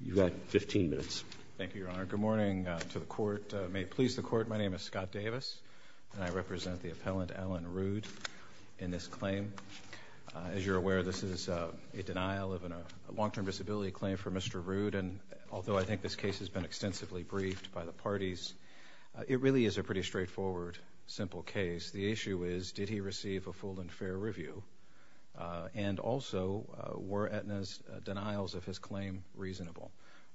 You've got 15 minutes. Thank you, Your Honor. Good morning to the court. May it please the court, my name is Scott Davis and I represent the appellant Allen Rude in this claim. As you're aware, this is a denial of a long-term disability claim for Mr. Rude and although I think this case has been extensively briefed by the parties, it really is a pretty straightforward, simple case. The issue is did he receive a full and fair review and also were Aetna's denials of his claim reasonable?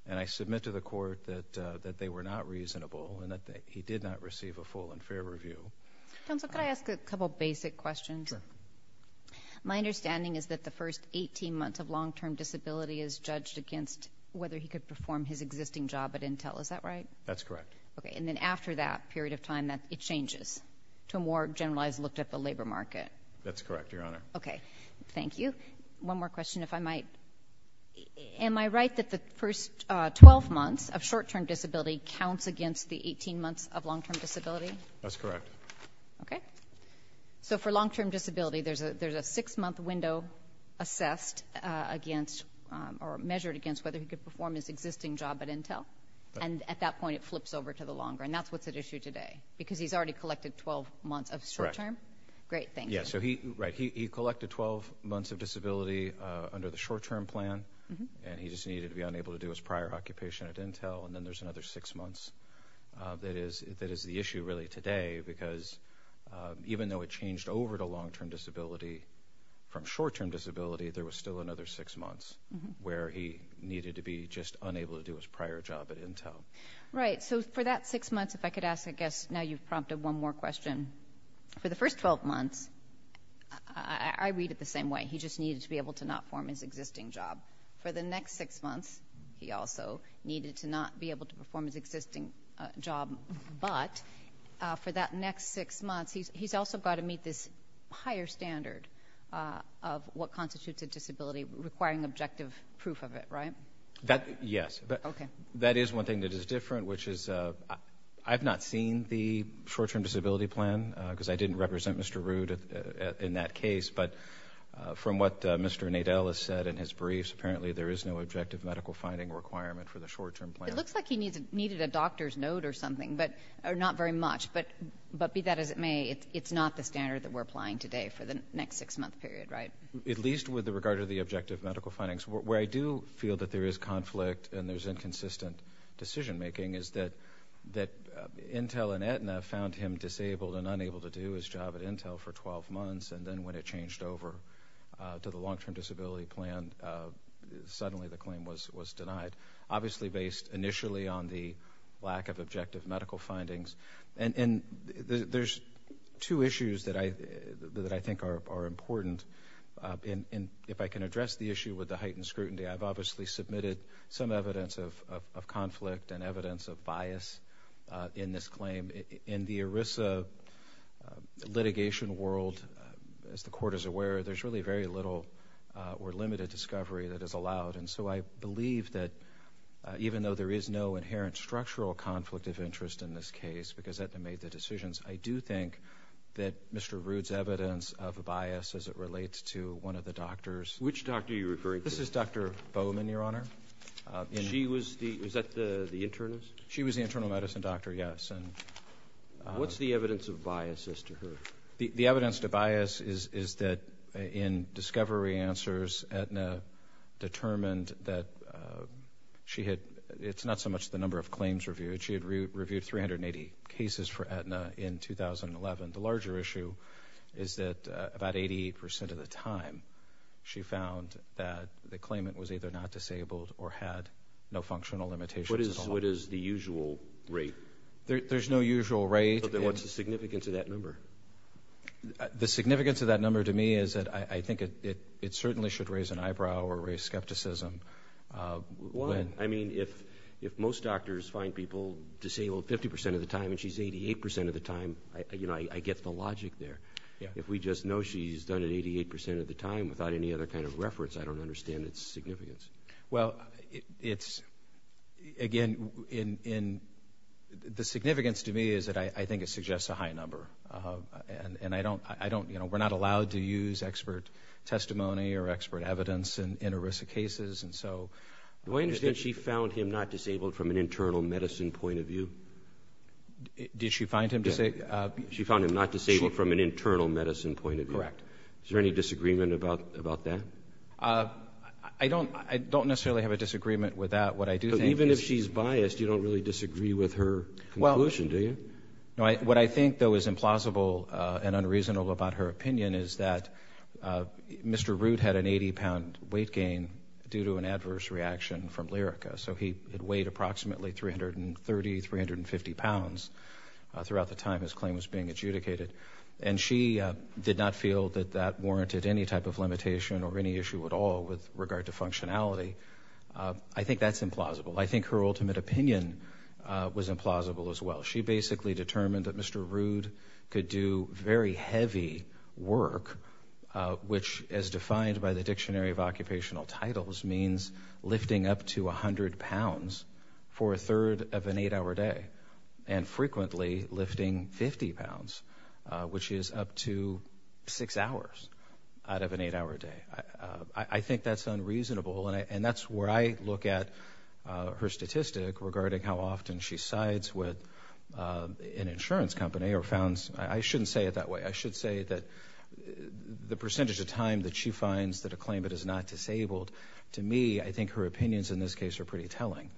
And I submit to the court that they were not reasonable and that he did not receive a full and fair review. Counsel, could I ask a couple basic questions? My understanding is that the first 18 months of long-term disability is judged against whether he could perform his existing job at Intel, is that right? That's correct. Okay, and then after that period of time that it changes to a more generalized look at the labor market? That's correct, Your Honor. Am I right that the first 12 months of short-term disability counts against the 18 months of long-term disability? That's correct. Okay, so for long-term disability there's a there's a six-month window assessed against or measured against whether he could perform his existing job at Intel and at that point it flips over to the longer and that's what's at issue today because he's already collected 12 months of short-term? Correct. Great, thank you. Yeah, so he, right, he just needed to be unable to do his prior occupation at Intel and then there's another six months that is that is the issue really today because even though it changed over to long-term disability from short-term disability there was still another six months where he needed to be just unable to do his prior job at Intel. Right, so for that six months if I could ask I guess now you've prompted one more question. For the first 12 months, I read it the same way, he just needed to be able to not form his existing job. For the next six months he also needed to not be able to perform his existing job, but for that next six months he's also got to meet this higher standard of what constitutes a disability requiring objective proof of it, right? That, yes. Okay. That is one thing that is different which is I've not seen the short-term disability plan because I didn't Mr. Nadel has said in his briefs apparently there is no objective medical finding requirement for the short-term plan. It looks like he needs needed a doctor's note or something, but not very much, but be that as it may it's not the standard that we're applying today for the next six month period, right? At least with the regard of the objective medical findings. Where I do feel that there is conflict and there's inconsistent decision-making is that that Intel and Aetna found him disabled and unable to do his job at Intel for the long-term disability plan. Suddenly the claim was was denied. Obviously based initially on the lack of objective medical findings. And there's two issues that I that I think are important in if I can address the issue with the heightened scrutiny. I've obviously submitted some evidence of conflict and evidence of bias in this claim. In the ERISA litigation world, as the court is very little or limited discovery that is allowed. And so I believe that even though there is no inherent structural conflict of interest in this case because Aetna made the decisions, I do think that Mr. Rood's evidence of a bias as it relates to one of the doctors. Which doctor are you referring to? This is Dr. Bowman, Your Honor. She was the, was that the internist? She was the internal medicine doctor, yes. And what's the evidence of bias as to her? The evidence to bias is that in discovery answers Aetna determined that she had, it's not so much the number of claims reviewed, she had reviewed 380 cases for Aetna in 2011. The larger issue is that about eighty percent of the time she found that the claimant was either not disabled or had no functional limitations. What is what is the usual rate? There's no usual rate. But then what's the significance of that number to me is that I think it it certainly should raise an eyebrow or raise skepticism. Why? I mean if if most doctors find people disabled fifty percent of the time and she's eighty-eight percent of the time, you know, I get the logic there. If we just know she's done it eighty-eight percent of the time without any other kind of reference, I don't understand its significance. Well it's again in in the significance to me is that I think it suggests a high number. And I don't, I don't, you know, we're not allowed to use expert testimony or expert evidence in in ERISA cases and so. Do I understand she found him not disabled from an internal medicine point of view? Did she find him disabled? She found him not disabled from an internal medicine point of view. Correct. Is there any disagreement about about that? I don't I don't necessarily have a disagreement with that. What I do think. Even if she's biased you don't really disagree with her conclusion, do you? No, what I think though is implausible and unreasonable about her opinion is that Mr. Root had an 80-pound weight gain due to an adverse reaction from Lyrica. So he had weighed approximately 330, 350 pounds throughout the time his claim was being adjudicated. And she did not feel that that warranted any type of limitation or any issue at all with regard to functionality. I think that's implausible. I think her ultimate opinion was implausible as well. She basically determined that Mr. Root could do very heavy work, which as defined by the Dictionary of Occupational Titles means lifting up to a hundred pounds for a third of an eight-hour day and frequently lifting 50 pounds, which is up to six hours out of an eight-hour day. I think regarding how often she sides with an insurance company or founds, I shouldn't say it that way, I should say that the percentage of time that she finds that a claimant is not disabled, to me, I think her opinions in this case are pretty telling.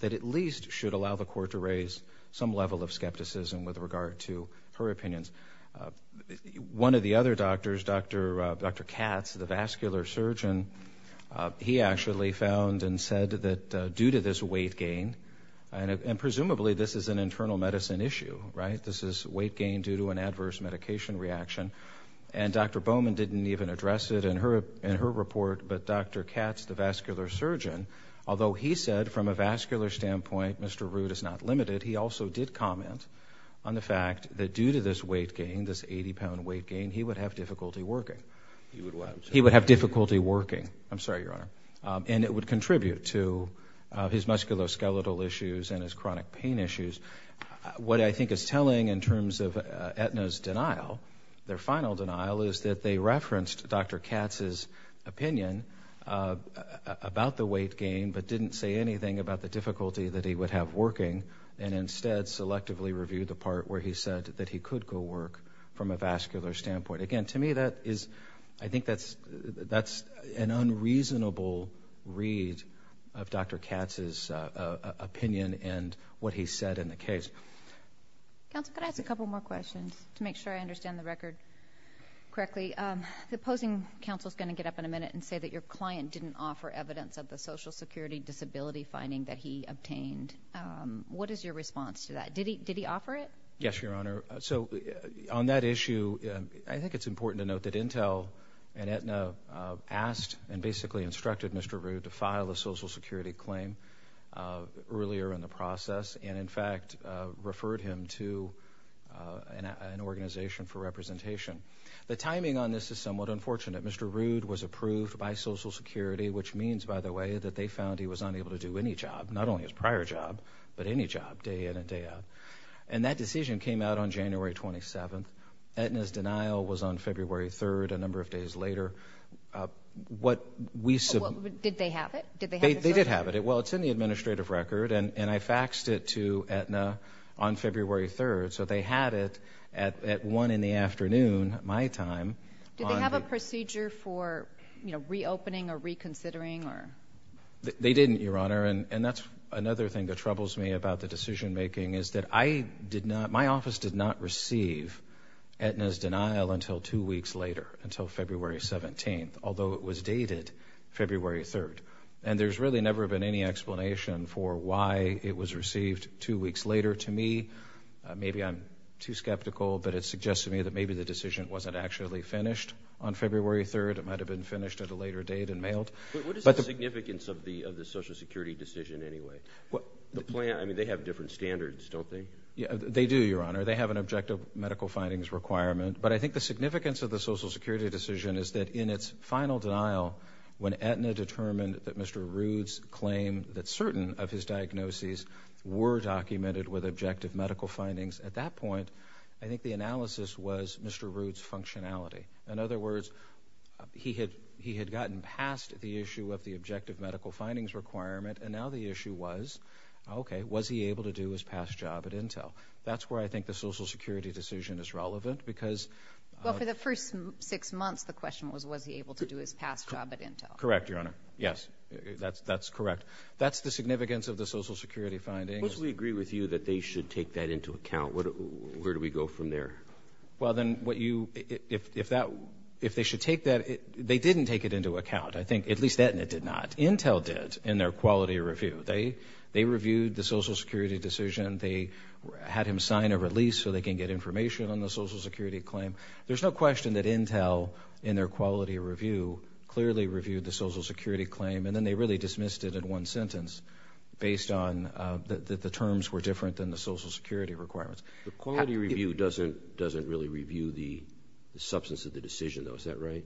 That at least should allow the court to raise some level of skepticism with regard to her opinions. One of the other doctors, Dr. Katz, the vascular surgeon, he actually found and said that due to this weight gain, and presumably this is an internal medicine issue, right, this is weight gain due to an adverse medication reaction, and Dr. Bowman didn't even address it in her report, but Dr. Katz, the vascular surgeon, although he said from a vascular standpoint Mr. Root is not limited, he also did comment on the fact that due to this weight gain, this 80-pound weight gain, he would have difficulty working. He would have difficulty working. I'm sorry, Your Honor. And it would contribute to his musculoskeletal issues and his chronic pain issues. What I think is telling in terms of Aetna's denial, their final denial, is that they referenced Dr. Katz's opinion about the weight gain, but didn't say anything about the difficulty that he would have working, and instead selectively reviewed the part where he said that he could go work from a vascular standpoint. Again, to me, that is, I think that's an unreasonable read of Dr. Katz's opinion and what he said in the case. Counsel, could I ask a couple more questions to make sure I understand the record correctly? The opposing counsel is going to get up in a minute and say that your client didn't offer evidence of the Social Security disability finding that he obtained. What is your response to that? Did he offer it? Yes, Your Honor. So on that issue, I think it's important to note that Intel and basically instructed Mr. Rude to file a Social Security claim earlier in the process, and in fact referred him to an organization for representation. The timing on this is somewhat unfortunate. Mr. Rude was approved by Social Security, which means, by the way, that they found he was unable to do any job, not only his prior job, but any job, day in and day out. And that decision came out on January 27th. Aetna's denial was on February 3rd, a number of days later. Did they have it? They did have it. Well, it's in the administrative record, and I faxed it to Aetna on February 3rd. So they had it at 1 in the afternoon, my time. Did they have a procedure for, you know, reopening or reconsidering? They didn't, Your Honor, and that's another thing that troubles me about the decision-making, is that I did not, my office did not receive Aetna's denial until two weeks later, until February 17th, although it was dated February 3rd. And there's really never been any explanation for why it was received two weeks later. To me, maybe I'm too skeptical, but it suggests to me that maybe the decision wasn't actually finished on February 3rd. It might have been finished at a later date and mailed. What is the significance of the Social Security decision anyway? Well, the plan, I mean, they have different standards, don't they? Yeah, they do, Your Honor. They have an objective medical findings requirement, but I think the significance of the Social Security decision is that in its final denial, when Aetna determined that Mr. Ruud's claim that certain of his diagnoses were documented with objective medical findings, at that point, I think the analysis was Mr. Ruud's functionality. In other words, he had gotten past the objective medical findings requirement, and now the issue was, okay, was he able to do his past job at Intel? That's where I think the Social Security decision is relevant, because... Well, for the first six months, the question was, was he able to do his past job at Intel? Correct, Your Honor. Yes, that's correct. That's the significance of the Social Security finding. Of course, we agree with you that they should take that into account. Where do we go from there? Well, then, what you, if that, if they should take that, they didn't take it into account, I think, at least Aetna did not. Intel did, in their quality review. They reviewed the Social Security decision. They had him sign a release so they can get information on the Social Security claim. There's no question that Intel, in their quality review, clearly reviewed the Social Security claim, and then they really dismissed it in one sentence, based on that the terms were different than the Social Security requirements. The quality review doesn't really review the substance of the decision, though. Is that right?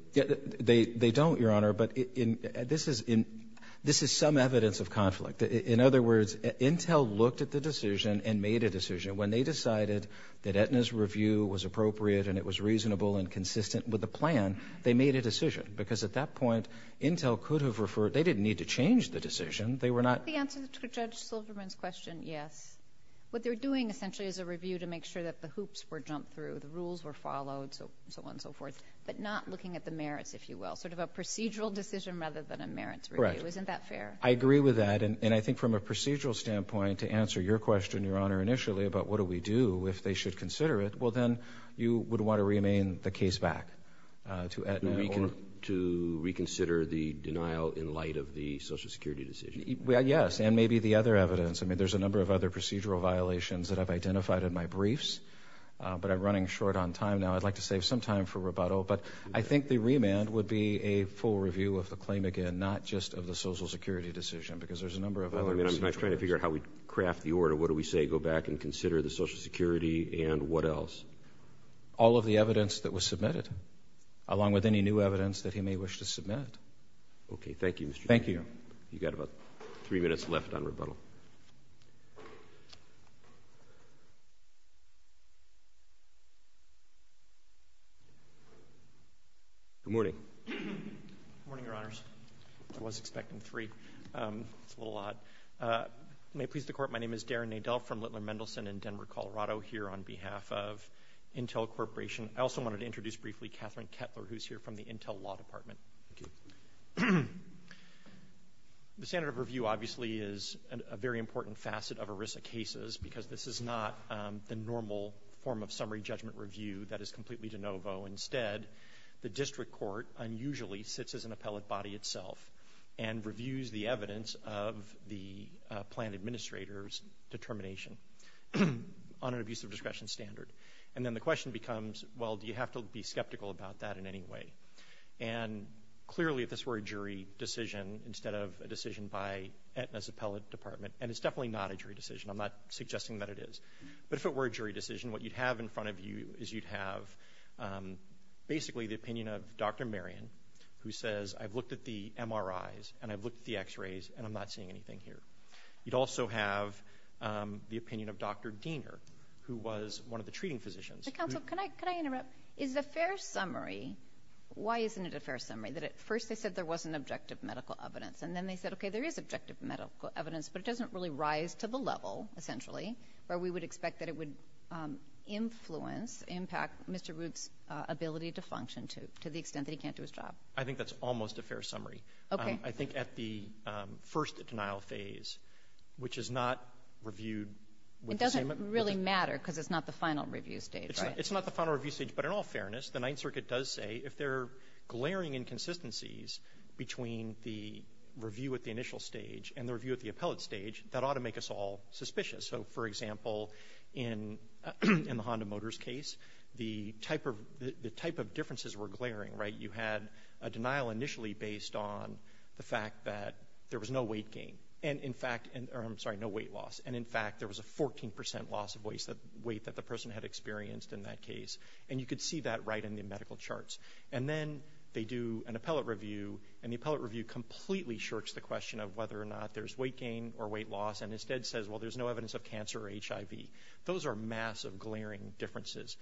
They don't, Your Honor, but this is some evidence of conflict. In other words, Intel looked at the decision and made a decision. When they decided that Aetna's review was appropriate and it was reasonable and consistent with the plan, they made a decision, because at that point, Intel could have referred, they didn't need to change the decision. They were not... The answer to Judge Silverman's question, yes. What they're doing, essentially, is a review to make sure that the hoops were jumped through, the rules were followed, so on and so forth. So it's more of a merits, if you will, sort of a procedural decision rather than a merits review. Correct. Isn't that fair? I agree with that, and I think from a procedural standpoint, to answer your question, Your Honor, initially, about what do we do if they should consider it, well then, you would want to remain the case back to Aetna or... To reconsider the denial in light of the Social Security decision. Yes, and maybe the other evidence. I mean, there's a number of other procedural violations that I've identified in my briefs, but I'm running short on time now. I'd like to save some time for rebuttal, but I think the remand would be a full review of the claim again, not just of the Social Security decision, because there's a number of... I mean, I'm trying to figure out how we craft the order. What do we say? Go back and consider the Social Security, and what else? All of the evidence that was submitted, along with any new evidence that he may wish to submit. Okay, thank you, Mr. Chief. Thank you. You've got about three minutes left on rebuttal. Good morning. Morning, Your Honors. I was expecting three. That's a little odd. May it please the Court, my name is Darren Nadel from Littler Mendelson in Denver, Colorado, here on behalf of Intel Corporation. I also wanted to introduce briefly Catherine Kettler, who's here from the Intel Law Department. The standard of review, obviously, is a very important facet of ERISA cases, because this is not the normal form of summary judgment review that is submitted. The district court unusually sits as an appellate body itself and reviews the evidence of the plan administrator's determination on an abusive discretion standard. And then the question becomes, well, do you have to be skeptical about that in any way? And clearly, if this were a jury decision, instead of a decision by Aetna's appellate department, and it's definitely not a jury decision, I'm not suggesting that it is, but if it were a opinion of Dr. Marion, who says, I've looked at the MRIs and I've looked at the x-rays and I'm not seeing anything here. You'd also have the opinion of Dr. Diener, who was one of the treating physicians. Counsel, can I interrupt? Is a fair summary, why isn't it a fair summary? That at first they said there wasn't objective medical evidence, and then they said, okay, there is objective medical evidence, but it doesn't really rise to the level, essentially, where we would expect that it would influence, impact Mr. Root's ability to function to the extent that he can't do his job. I think that's almost a fair summary. Okay. I think at the first denial phase, which is not reviewed. It doesn't really matter, because it's not the final review stage, right? It's not the final review stage, but in all fairness, the Ninth Circuit does say if there are glaring inconsistencies between the review at the initial stage and the review at the appellate stage, that ought to make us all suspicious. So, for example, in the Honda Motors case, the type of differences were glaring, right? You had a denial initially based on the fact that there was no weight gain, and in fact, I'm sorry, no weight loss. And in fact, there was a 14% loss of weight that the person had experienced in that case. And you could see that right in the medical charts. And then they do an appellate review, and the appellate review completely shirks the question of whether or not there's weight loss, whether or not there's evidence of cancer or HIV. Those are massive glaring differences.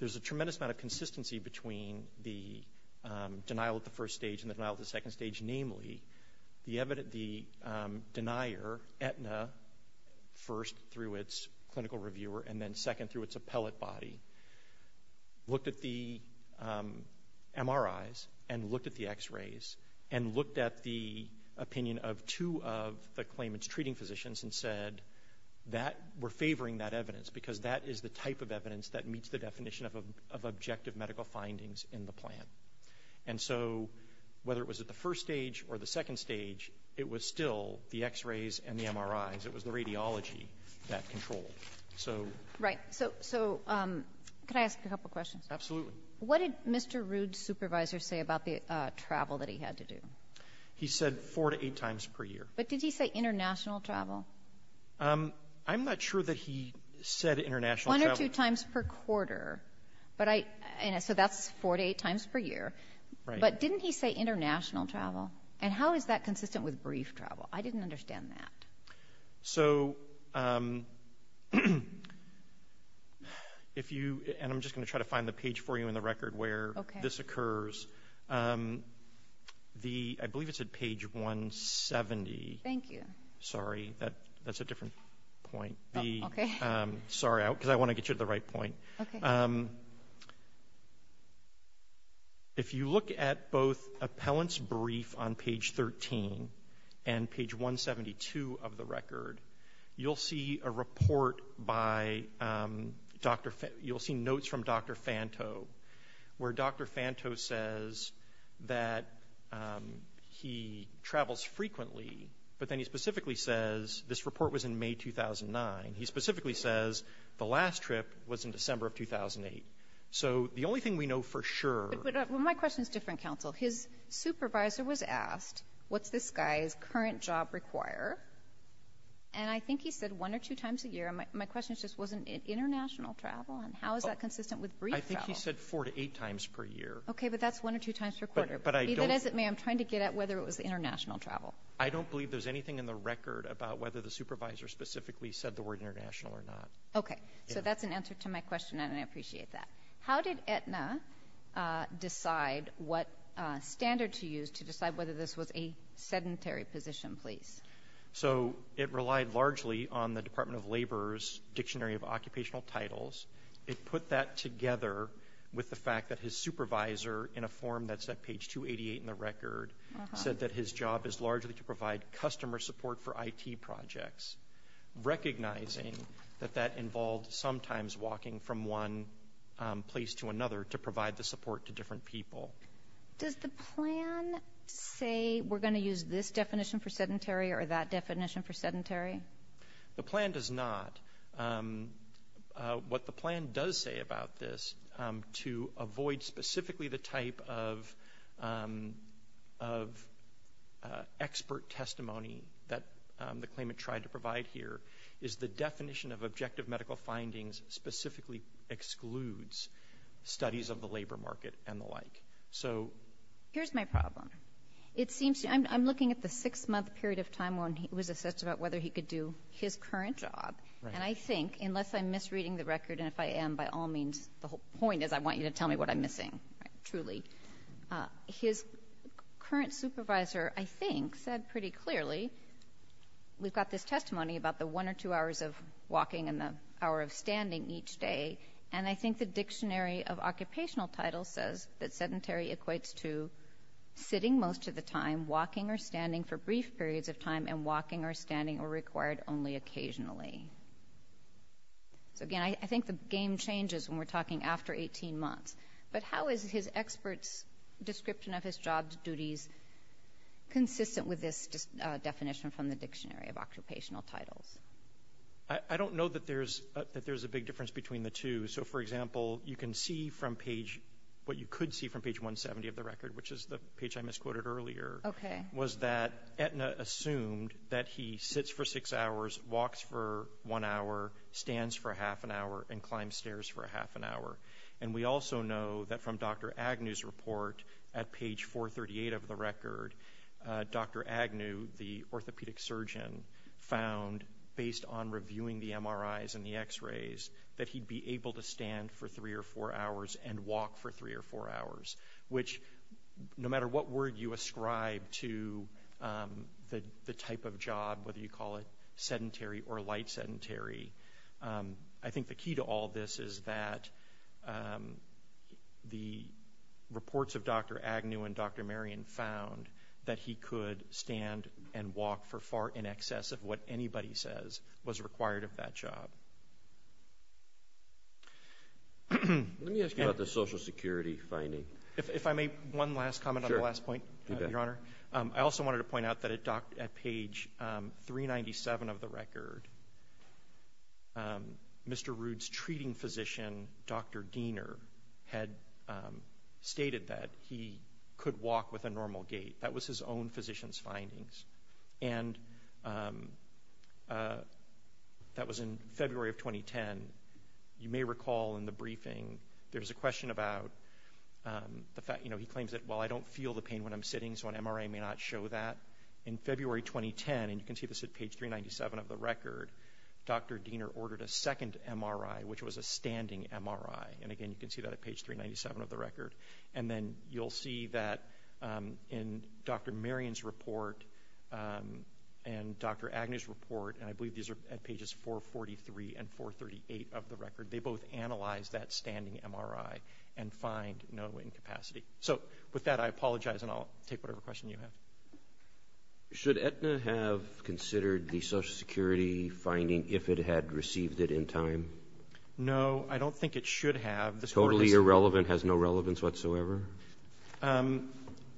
There's a tremendous amount of consistency between the denial at the first stage and the denial at the second stage. Namely, the denier, Aetna, first through its clinical reviewer and then second through its appellate body, looked at the MRIs and looked at the X-rays and looked at the opinion of two of the medical examiners. We're favoring that evidence because that is the type of evidence that meets the definition of objective medical findings in the plan. And so, whether it was at the first stage or the second stage, it was still the X-rays and the MRIs. It was the radiology that controlled. Right. So, can I ask a couple questions? Absolutely. What did Mr. Rude's supervisor say about the travel that he had to do? He said four to eight times per year. But did he say international travel? I'm not sure that he said international travel. One or two times per quarter. So, that's four to eight times per year. But didn't he say international travel? And how is that consistent with brief travel? I didn't understand that. And I'm just going to try to find the page for you in the record where this occurs. I believe it's at page 170. Thank you. Sorry, that's a different point. Sorry, because I want to get you to the right point. If you look at both appellant's brief on page 13 and page 172 of the record, you'll see a report by Dr. – you'll see notes from Dr. Fanto where Dr. Fanto says that he travels frequently, but then he specifically says this report was in May 2009. He specifically says the last trip was in December of 2008. So, the only thing we know for sure – But my question is different, counsel. His supervisor was asked, what's this guy's current job require? And I think he said one or two times a year. My question is just, was it international travel? And how is that consistent with brief travel? I think he said four to eight times per year. Okay, but that's one or two times per quarter. Be that as it may, I'm trying to get at whether it was international travel. I don't believe there's anything in the record about whether the supervisor specifically said the word international or not. Okay. So, that's an answer to my question, and I appreciate that. How did Aetna decide what standard to use to decide whether this was a sedentary position, please? So, it relied largely on the Department of Labor's Dictionary of Occupational Titles. It put that together with the fact that his supervisor, in a form that's at page 288 in the record, said that his job is largely to provide customer support for IT projects, recognizing that that involved sometimes walking from one place to another to provide the support to different people. Does the plan say we're going to use this definition for sedentary or that definition for sedentary? The plan does not. What the plan does say about this, to avoid specifically the type of expert testimony that the claimant tried to provide here, is the definition of objective medical findings specifically excludes studies of the labor market and the like. Here's my problem. I'm looking at the six-month period of time when he was his current job, and I think, unless I'm misreading the record, and if I am, by all means, the whole point is I want you to tell me what I'm missing, truly. His current supervisor, I think, said pretty clearly, we've got this testimony about the one or two hours of walking and the hour of standing each day, and I think the Dictionary of Occupational Titles says that sedentary equates to sitting most of the time, walking or standing for brief periods of time, and retired only occasionally. So, again, I think the game changes when we're talking after 18 months, but how is his expert's description of his job duties consistent with this definition from the Dictionary of Occupational Titles? I don't know that there's a big difference between the two. So, for example, you can see from page, what you could see from page 170 of the record, which is the page I misquoted earlier, was that Aetna assumed that he sits for six hours, walks for one hour, stands for half an hour, and climbs stairs for half an hour. And we also know that from Dr. Agnew's report at page 438 of the record, Dr. Agnew, the orthopedic surgeon, found, based on reviewing the MRIs and the X-rays, that he'd be able to stand for three or four hours and walk for three or four hours, which, no matter what word you ascribe to the type of job, whether you call it sedentary or light sedentary, I think the key to all this is that the reports of Dr. Agnew and Dr. Marion found that he could stand and walk for far in excess of what anybody says was required of that job. Let me ask you about the Social Security finding. If I may, one last comment on the last point, Your Honor. I also wanted to mention, page 397 of the record, Mr. Rood's treating physician, Dr. Giener, had stated that he could walk with a normal gait. That was his own physician's findings. And that was in February of 2010. You may recall in the briefing, there's a question about, you know, he claims that, well, I don't feel the pain when I'm sitting, so an MRI may not show that. In February 2010, and you can see this at page 397 of the record, Dr. Giener ordered a second MRI, which was a standing MRI. And again, you can see that at page 397 of the record. And then you'll see that in Dr. Marion's report and Dr. Agnew's report, and I believe these are at pages 443 and 438 of the record, they both analyzed that standing MRI and find no incapacity. So with that, I apologize, and I'll take whatever question you have. Should Aetna have considered the Social Security finding if it had received it in time? No, I don't think it should have. Totally irrelevant? Has no relevance whatsoever?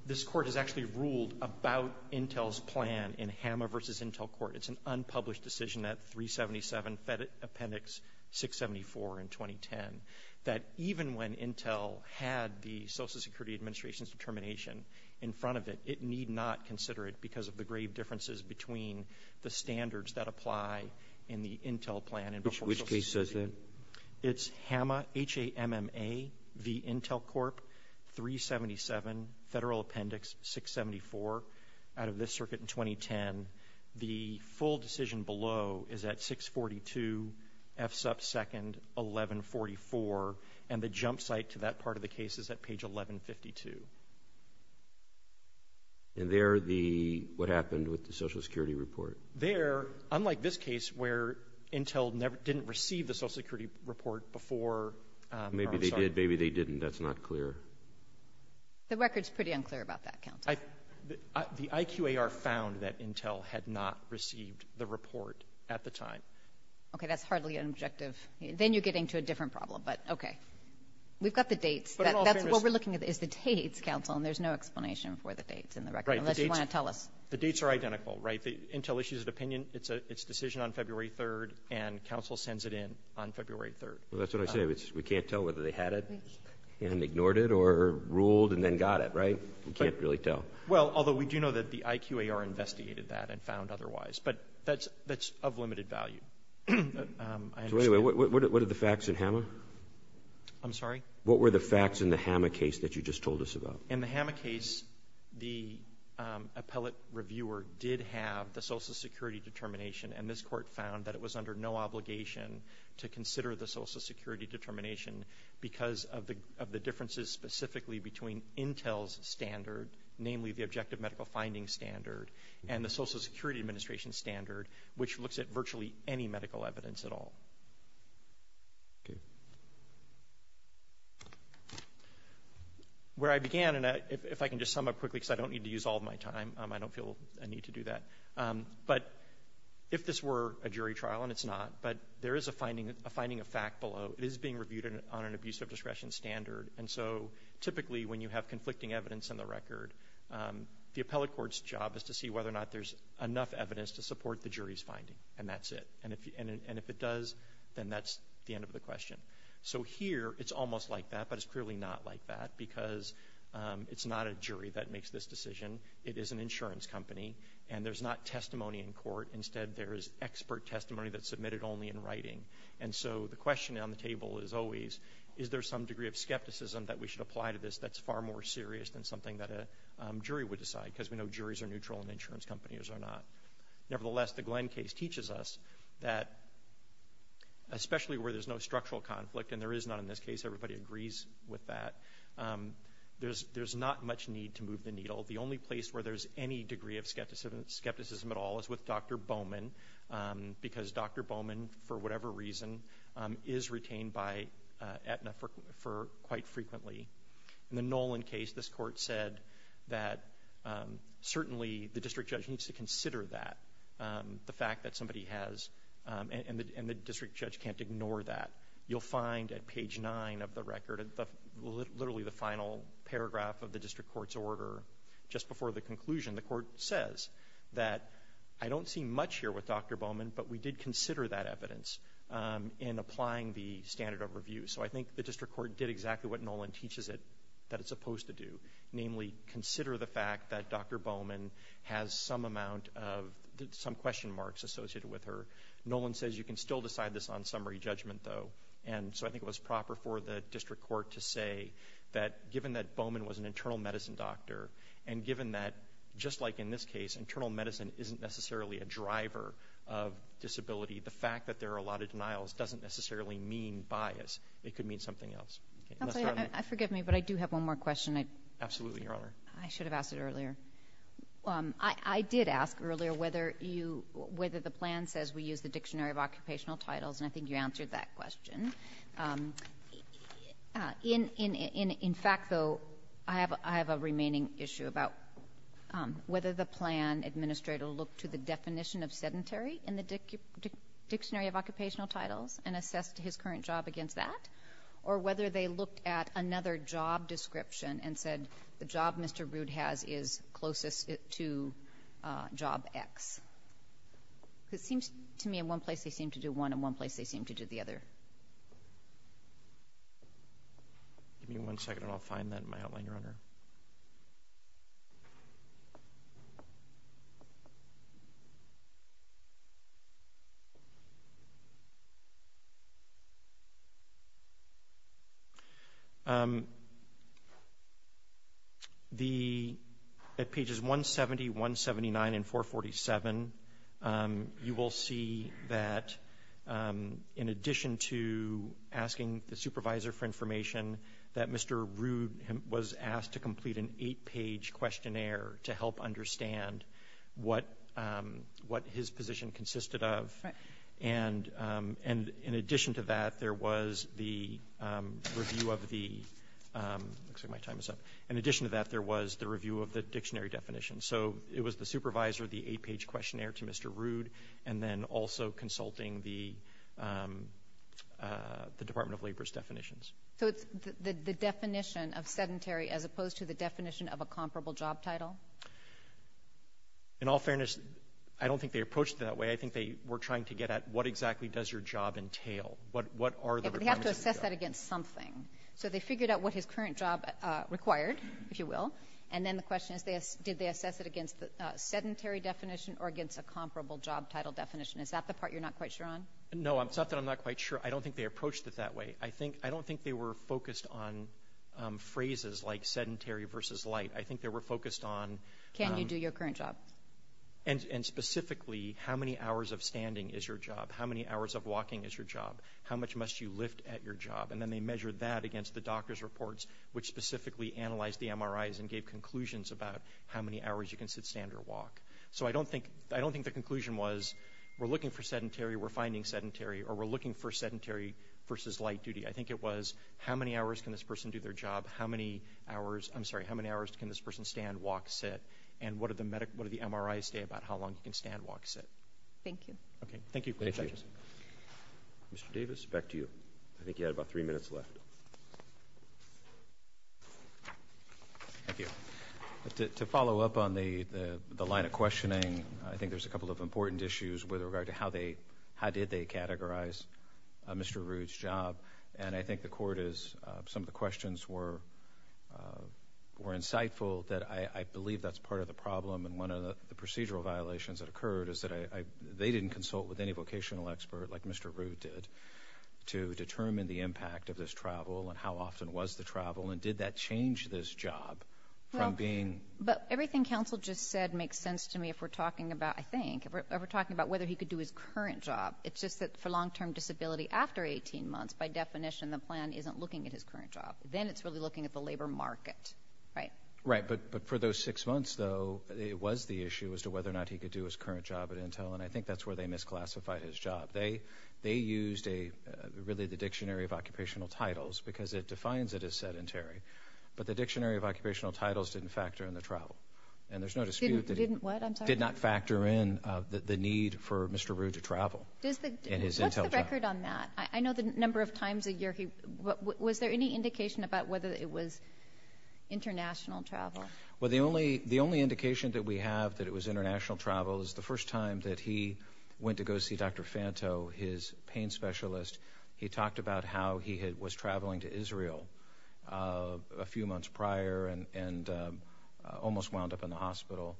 This court has actually ruled about Intel's plan in HAMA versus Intel court. It's an unpublished decision at 377, Fed Appendix 674 in 2010, that even when Intel had the Social Security Administration's determination in front of it, it need not consider it because of the grave differences between the standards that apply in the Intel plan and before Social Security. Which case is it? It's HAMA, H-A-M-M-A, v. Intel Corp., 377, Federal Appendix 674, out of this circuit in 2010. The full decision below is at 642, F sub 2nd, 1144, and the jump site to that part of the case is at page 1152. And there the, what happened with the Social Security report? There, unlike this case where Intel never, didn't receive the Social Security report before, I'm sorry. Maybe they did, maybe they didn't, that's not clear. The record's pretty unclear about that, counsel. I, the IQAR found that Intel had not received the report at the time. Okay, that's hardly an objective, then you're getting to a different problem, but okay. We've got the dates, that's what we're looking at is the dates, counsel, and there's no explanation for the dates. Unless you want to tell us. The dates are identical, right? Intel issues an opinion, it's a, it's a decision on February 3rd, and counsel sends it in on February 3rd. Well, that's what I said, it's, we can't tell whether they had it and ignored it or ruled and then got it, right? We can't really tell. Well, although we do know that the IQAR investigated that and found otherwise, but that's, that's of limited value. So anyway, what, what are the facts in HAMA? I'm sorry? What were the facts in the HAMA case that you just told us about? In the HAMA case, the appellate reviewer did have the social security determination, and this court found that it was under no obligation to consider the social security determination because of the, of the differences specifically between Intel's standard, namely the objective medical finding standard, and the social security administration standard, which looks at virtually any medical evidence at all. Okay. Where I began, and if I can just sum up quickly, because I don't need to use all of my time, I don't feel a need to do that, but if this were a jury trial, and it's not, but there is a finding, a finding of fact below, it is being reviewed on an abuse of discretion standard, and so typically when you have conflicting evidence in the record, the appellate court's job is to see whether or not there's enough evidence to support the jury's finding, and that's it. And if it does, then that's the end of the question. So here, it's almost like that, but it's clearly not like that, because it's not a jury that makes this decision, it is an insurance company, and there's not testimony in court, instead there is expert testimony that's submitted only in writing, and so the question on the table is always, is there some degree of skepticism that we should apply to this that's far more serious than something that a jury would decide, because we know juries are neutral and insurance companies are not. Nevertheless, the Glenn case teaches us that, especially where there's no structural conflict, and there is not in this case, everybody agrees with that, there's not much need to move the needle. The only place where there's any degree of skepticism at all is with Dr. Bowman, because Dr. Bowman, for whatever reason, is retained by Aetna for quite frequently. In the Nolan case, this court said that certainly the district judge needs to consider that, the fact that somebody has, and the district judge can't ignore that. You'll find at page nine of the record, literally the final paragraph of the district court's order, just before the conclusion, the court says that, I don't see much here with Dr. Bowman, but we did consider that evidence in applying the standard of review, so I think the district court did exactly what Nolan teaches it that it's supposed to do. Namely, consider the fact that Dr. Bowman has some amount of, some question marks associated with her. Nolan says you can still decide this on summary judgment, though, and so I think it was proper for the district court to say that, given that Bowman was an internal medicine doctor, and given that, just like in this case, internal medicine isn't necessarily a driver of disability, the fact that there are a lot of denials doesn't necessarily mean bias. It could mean something else. Forgive me, but I do have one more question. Absolutely, Your Honor. I should have asked it earlier. I did ask earlier whether the plan says we use the dictionary of occupational titles, and I think you answered that question. In fact, though, I have a remaining issue about whether the plan administrator looked to the definition of sedentary in the dictionary of occupational titles and assessed his current job against that, or whether they looked at another job description and said the job Mr. Rood has is closest to job X. It seems to me in one place they seem to do one, and one place they seem to do the other. Give me one second, and I'll find that in my outline, Your Honor. At pages 170, 179, and 447, you will see that in addition to asking the supervisor for information, that Mr. Rood was asked to complete an eight-page questionnaire to help understand what his position consisted of, and in addition to that, there was the review of the dictionary definition. So it was the supervisor, the eight-page questionnaire to Mr. Rood, and then also consulting the Department of Labor's definitions. So it's the definition of sedentary as opposed to the definition of a comparable job title? In all fairness, I don't think they approached it that way. I think they were trying to get at what exactly does your job entail? What are the requirements of your job? Yeah, but they have to assess that against something. So they figured out what his current job required, if you will, and then the question is, did they assess it against the sedentary definition or against a comparable job title definition? Is that the part you're not quite sure on? No, it's not that I'm not quite sure. I don't think they approached it that way. I don't think they were focused on phrases like sedentary versus light. I think they were focused on— Can you do your current job? And specifically, how many hours of standing is your job? How many hours of walking is your job? How much must you lift at your job? And then they measured that against the doctor's reports, which specifically analyzed the MRIs and gave conclusions about how many hours you can sit, stand, or walk. So I don't think the conclusion was, we're looking for sedentary, we're finding sedentary, or we're looking for sedentary versus light duty. I think it was, how many hours can this person do their job? How many hours—I'm sorry, how many hours can this person stand, walk, sit? And what are the MRIs say about how long can stand, walk, sit? Thank you. Okay. Thank you. Mr. Davis, back to you. I think you had about three minutes left. Thank you. To follow up on the line of questioning, I think there's a couple of important issues with regard to how they—how did they categorize Mr. Rude's job. And I think the court is—some of the questions were insightful that I believe that's part of the problem and one of the procedural violations that occurred is that they didn't consult with any vocational expert like Mr. Rude did to determine the impact of this travel and how often was the travel and did that change this job from being— But everything counsel just said makes sense to me if we're talking about, I think, if we're talking about whether he could do his current job. It's just that for long-term disability after 18 months, by definition, the plan isn't looking at his current job. Then it's really looking at the labor market, right? Right. But for those six months, though, it was the issue as to whether or not he could do his current job at Intel. And I think that's where they misclassified his job. They—they used a—really the Dictionary of Occupational Titles because it defines it as sedentary. But the Dictionary of Occupational Titles didn't factor in the travel. And there's no dispute that— Didn't what? I'm sorry. Did not factor in the need for Mr. Rude to travel in his Intel job. Does the—what's the record on that? I know the number of times a year he—was there any indication about whether it was international travel? Well, the only—the only indication that we have that it was international travel is the first time that he went to go see Dr. Fanto, his pain specialist. He talked about how he had—was traveling to Israel a few months prior and almost wound up in the hospital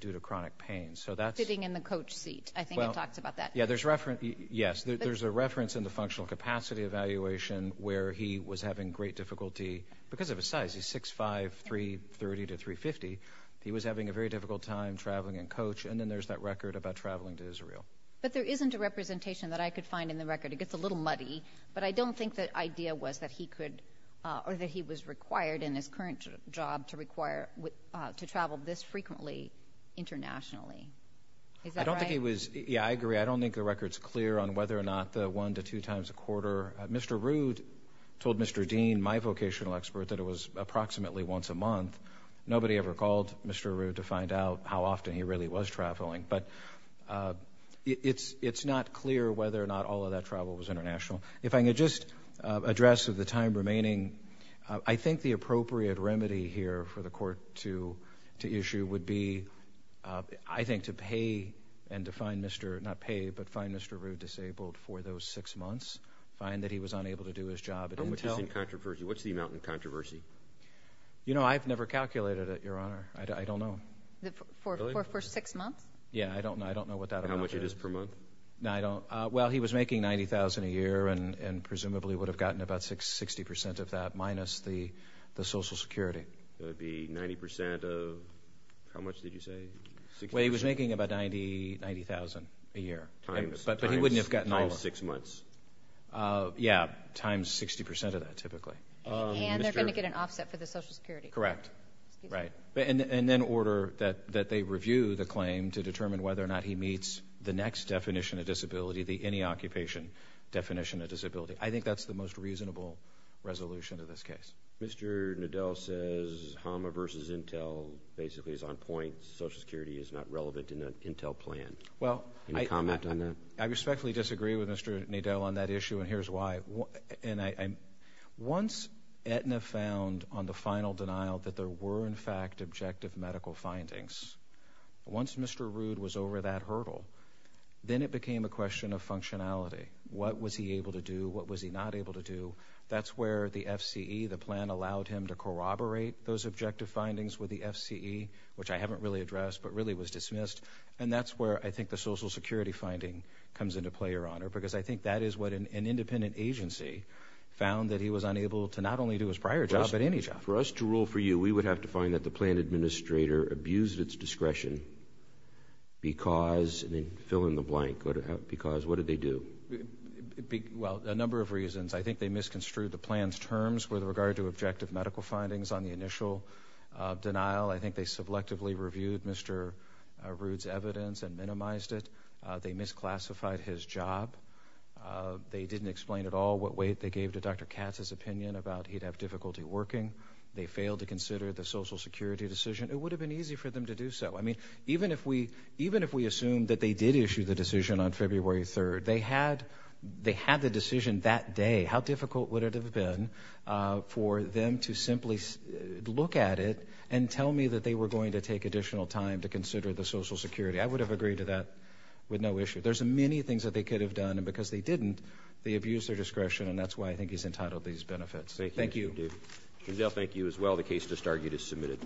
due to chronic pain. So that's— Sitting in the coach seat. I think it talks about that. Yeah, there's reference—yes. There's a reference in the functional capacity evaluation where he was having great difficulty because of his size. He's 6'5", 330 to 350. He was having a very difficult time traveling in coach. And then there's that record about traveling to Israel. But there isn't a representation that I could find in the record. It gets a little muddy. But I don't think the idea was that he could—or that he was required in his current job to require—to travel this frequently internationally. Is that right? I don't think he was—yeah, I agree. I don't think the record's clear on whether or not the one to two times a quarter—Mr. Rude told Mr. Dean, my vocational expert, that it was approximately once a month. Nobody ever called Mr. Rude to find out how often he really was traveling. But it's not clear whether or not all of that travel was international. If I could just address of the time remaining, I think the appropriate remedy here for the court to issue would be, I think, to pay and to find Mr.—not pay, but find Mr. Rude disabled for those six months. Find that he was unable to do his job. How much is in controversy? What's the amount in controversy? You know, I've never calculated it, Your Honor. I don't know. For six months? Yeah, I don't know. I don't know what that amount is. How much it is per month? No, I don't. Well, he was making $90,000 a year and presumably would have gotten about 60 percent of that, minus the Social Security. That would be 90 percent of—how much did you say? Well, he was making about $90,000 a year. But he wouldn't have gotten all of it. Times six months. Yeah, times 60 percent of that, typically. And they're going to get an offset for the Social Security. Correct. Right. And then order that they review the claim to determine whether or not he meets the next definition of disability, the any occupation definition of disability. I think that's the most reasonable resolution in this case. Mr. Nadel says HAMA versus Intel basically is on point. Social Security is not relevant in that Intel plan. Well, I respectfully disagree with Mr. Nadel on that issue, and here's why. Once Aetna found on the final denial that there were, in fact, objective medical findings, once Mr. Rood was over that hurdle, then it became a question of functionality. What was he able to do? What was he not able to do? That's where the FCE, the plan allowed him to corroborate those objective findings with the FCE, which I haven't really addressed, but really was dismissed. And that's where I think the Social Security finding comes into play, Your Honor, because I think that is what an independent agency found that he was unable to not only do his prior job, but any job. For us to rule for you, we would have to find that the plan administrator abused its discretion because, and then fill in the blank, because what did they do? Well, a number of reasons. I think they misconstrued the plan's terms with regard to objective medical findings on the initial denial. I think they selectively reviewed Mr. Rood's evidence and minimized it. They misclassified his job. They didn't explain at all what weight they gave to Dr. Katz's opinion about he'd have difficulty working. They failed to consider the Social Security decision. It would have been easy for them to do so. I mean, even if we assumed that they did issue the decision on February 3rd, they had the decision that day. How difficult would it have been for them to simply look at it and tell me that they were going to take additional time to consider the Social Security? I would have agreed to that with no issue. There's many things that they could have done, and because they didn't, they abused their discretion, and that's why I think he's entitled to these benefits. Thank you. Thank you. Giselle, thank you as well. The case just argued is submitted.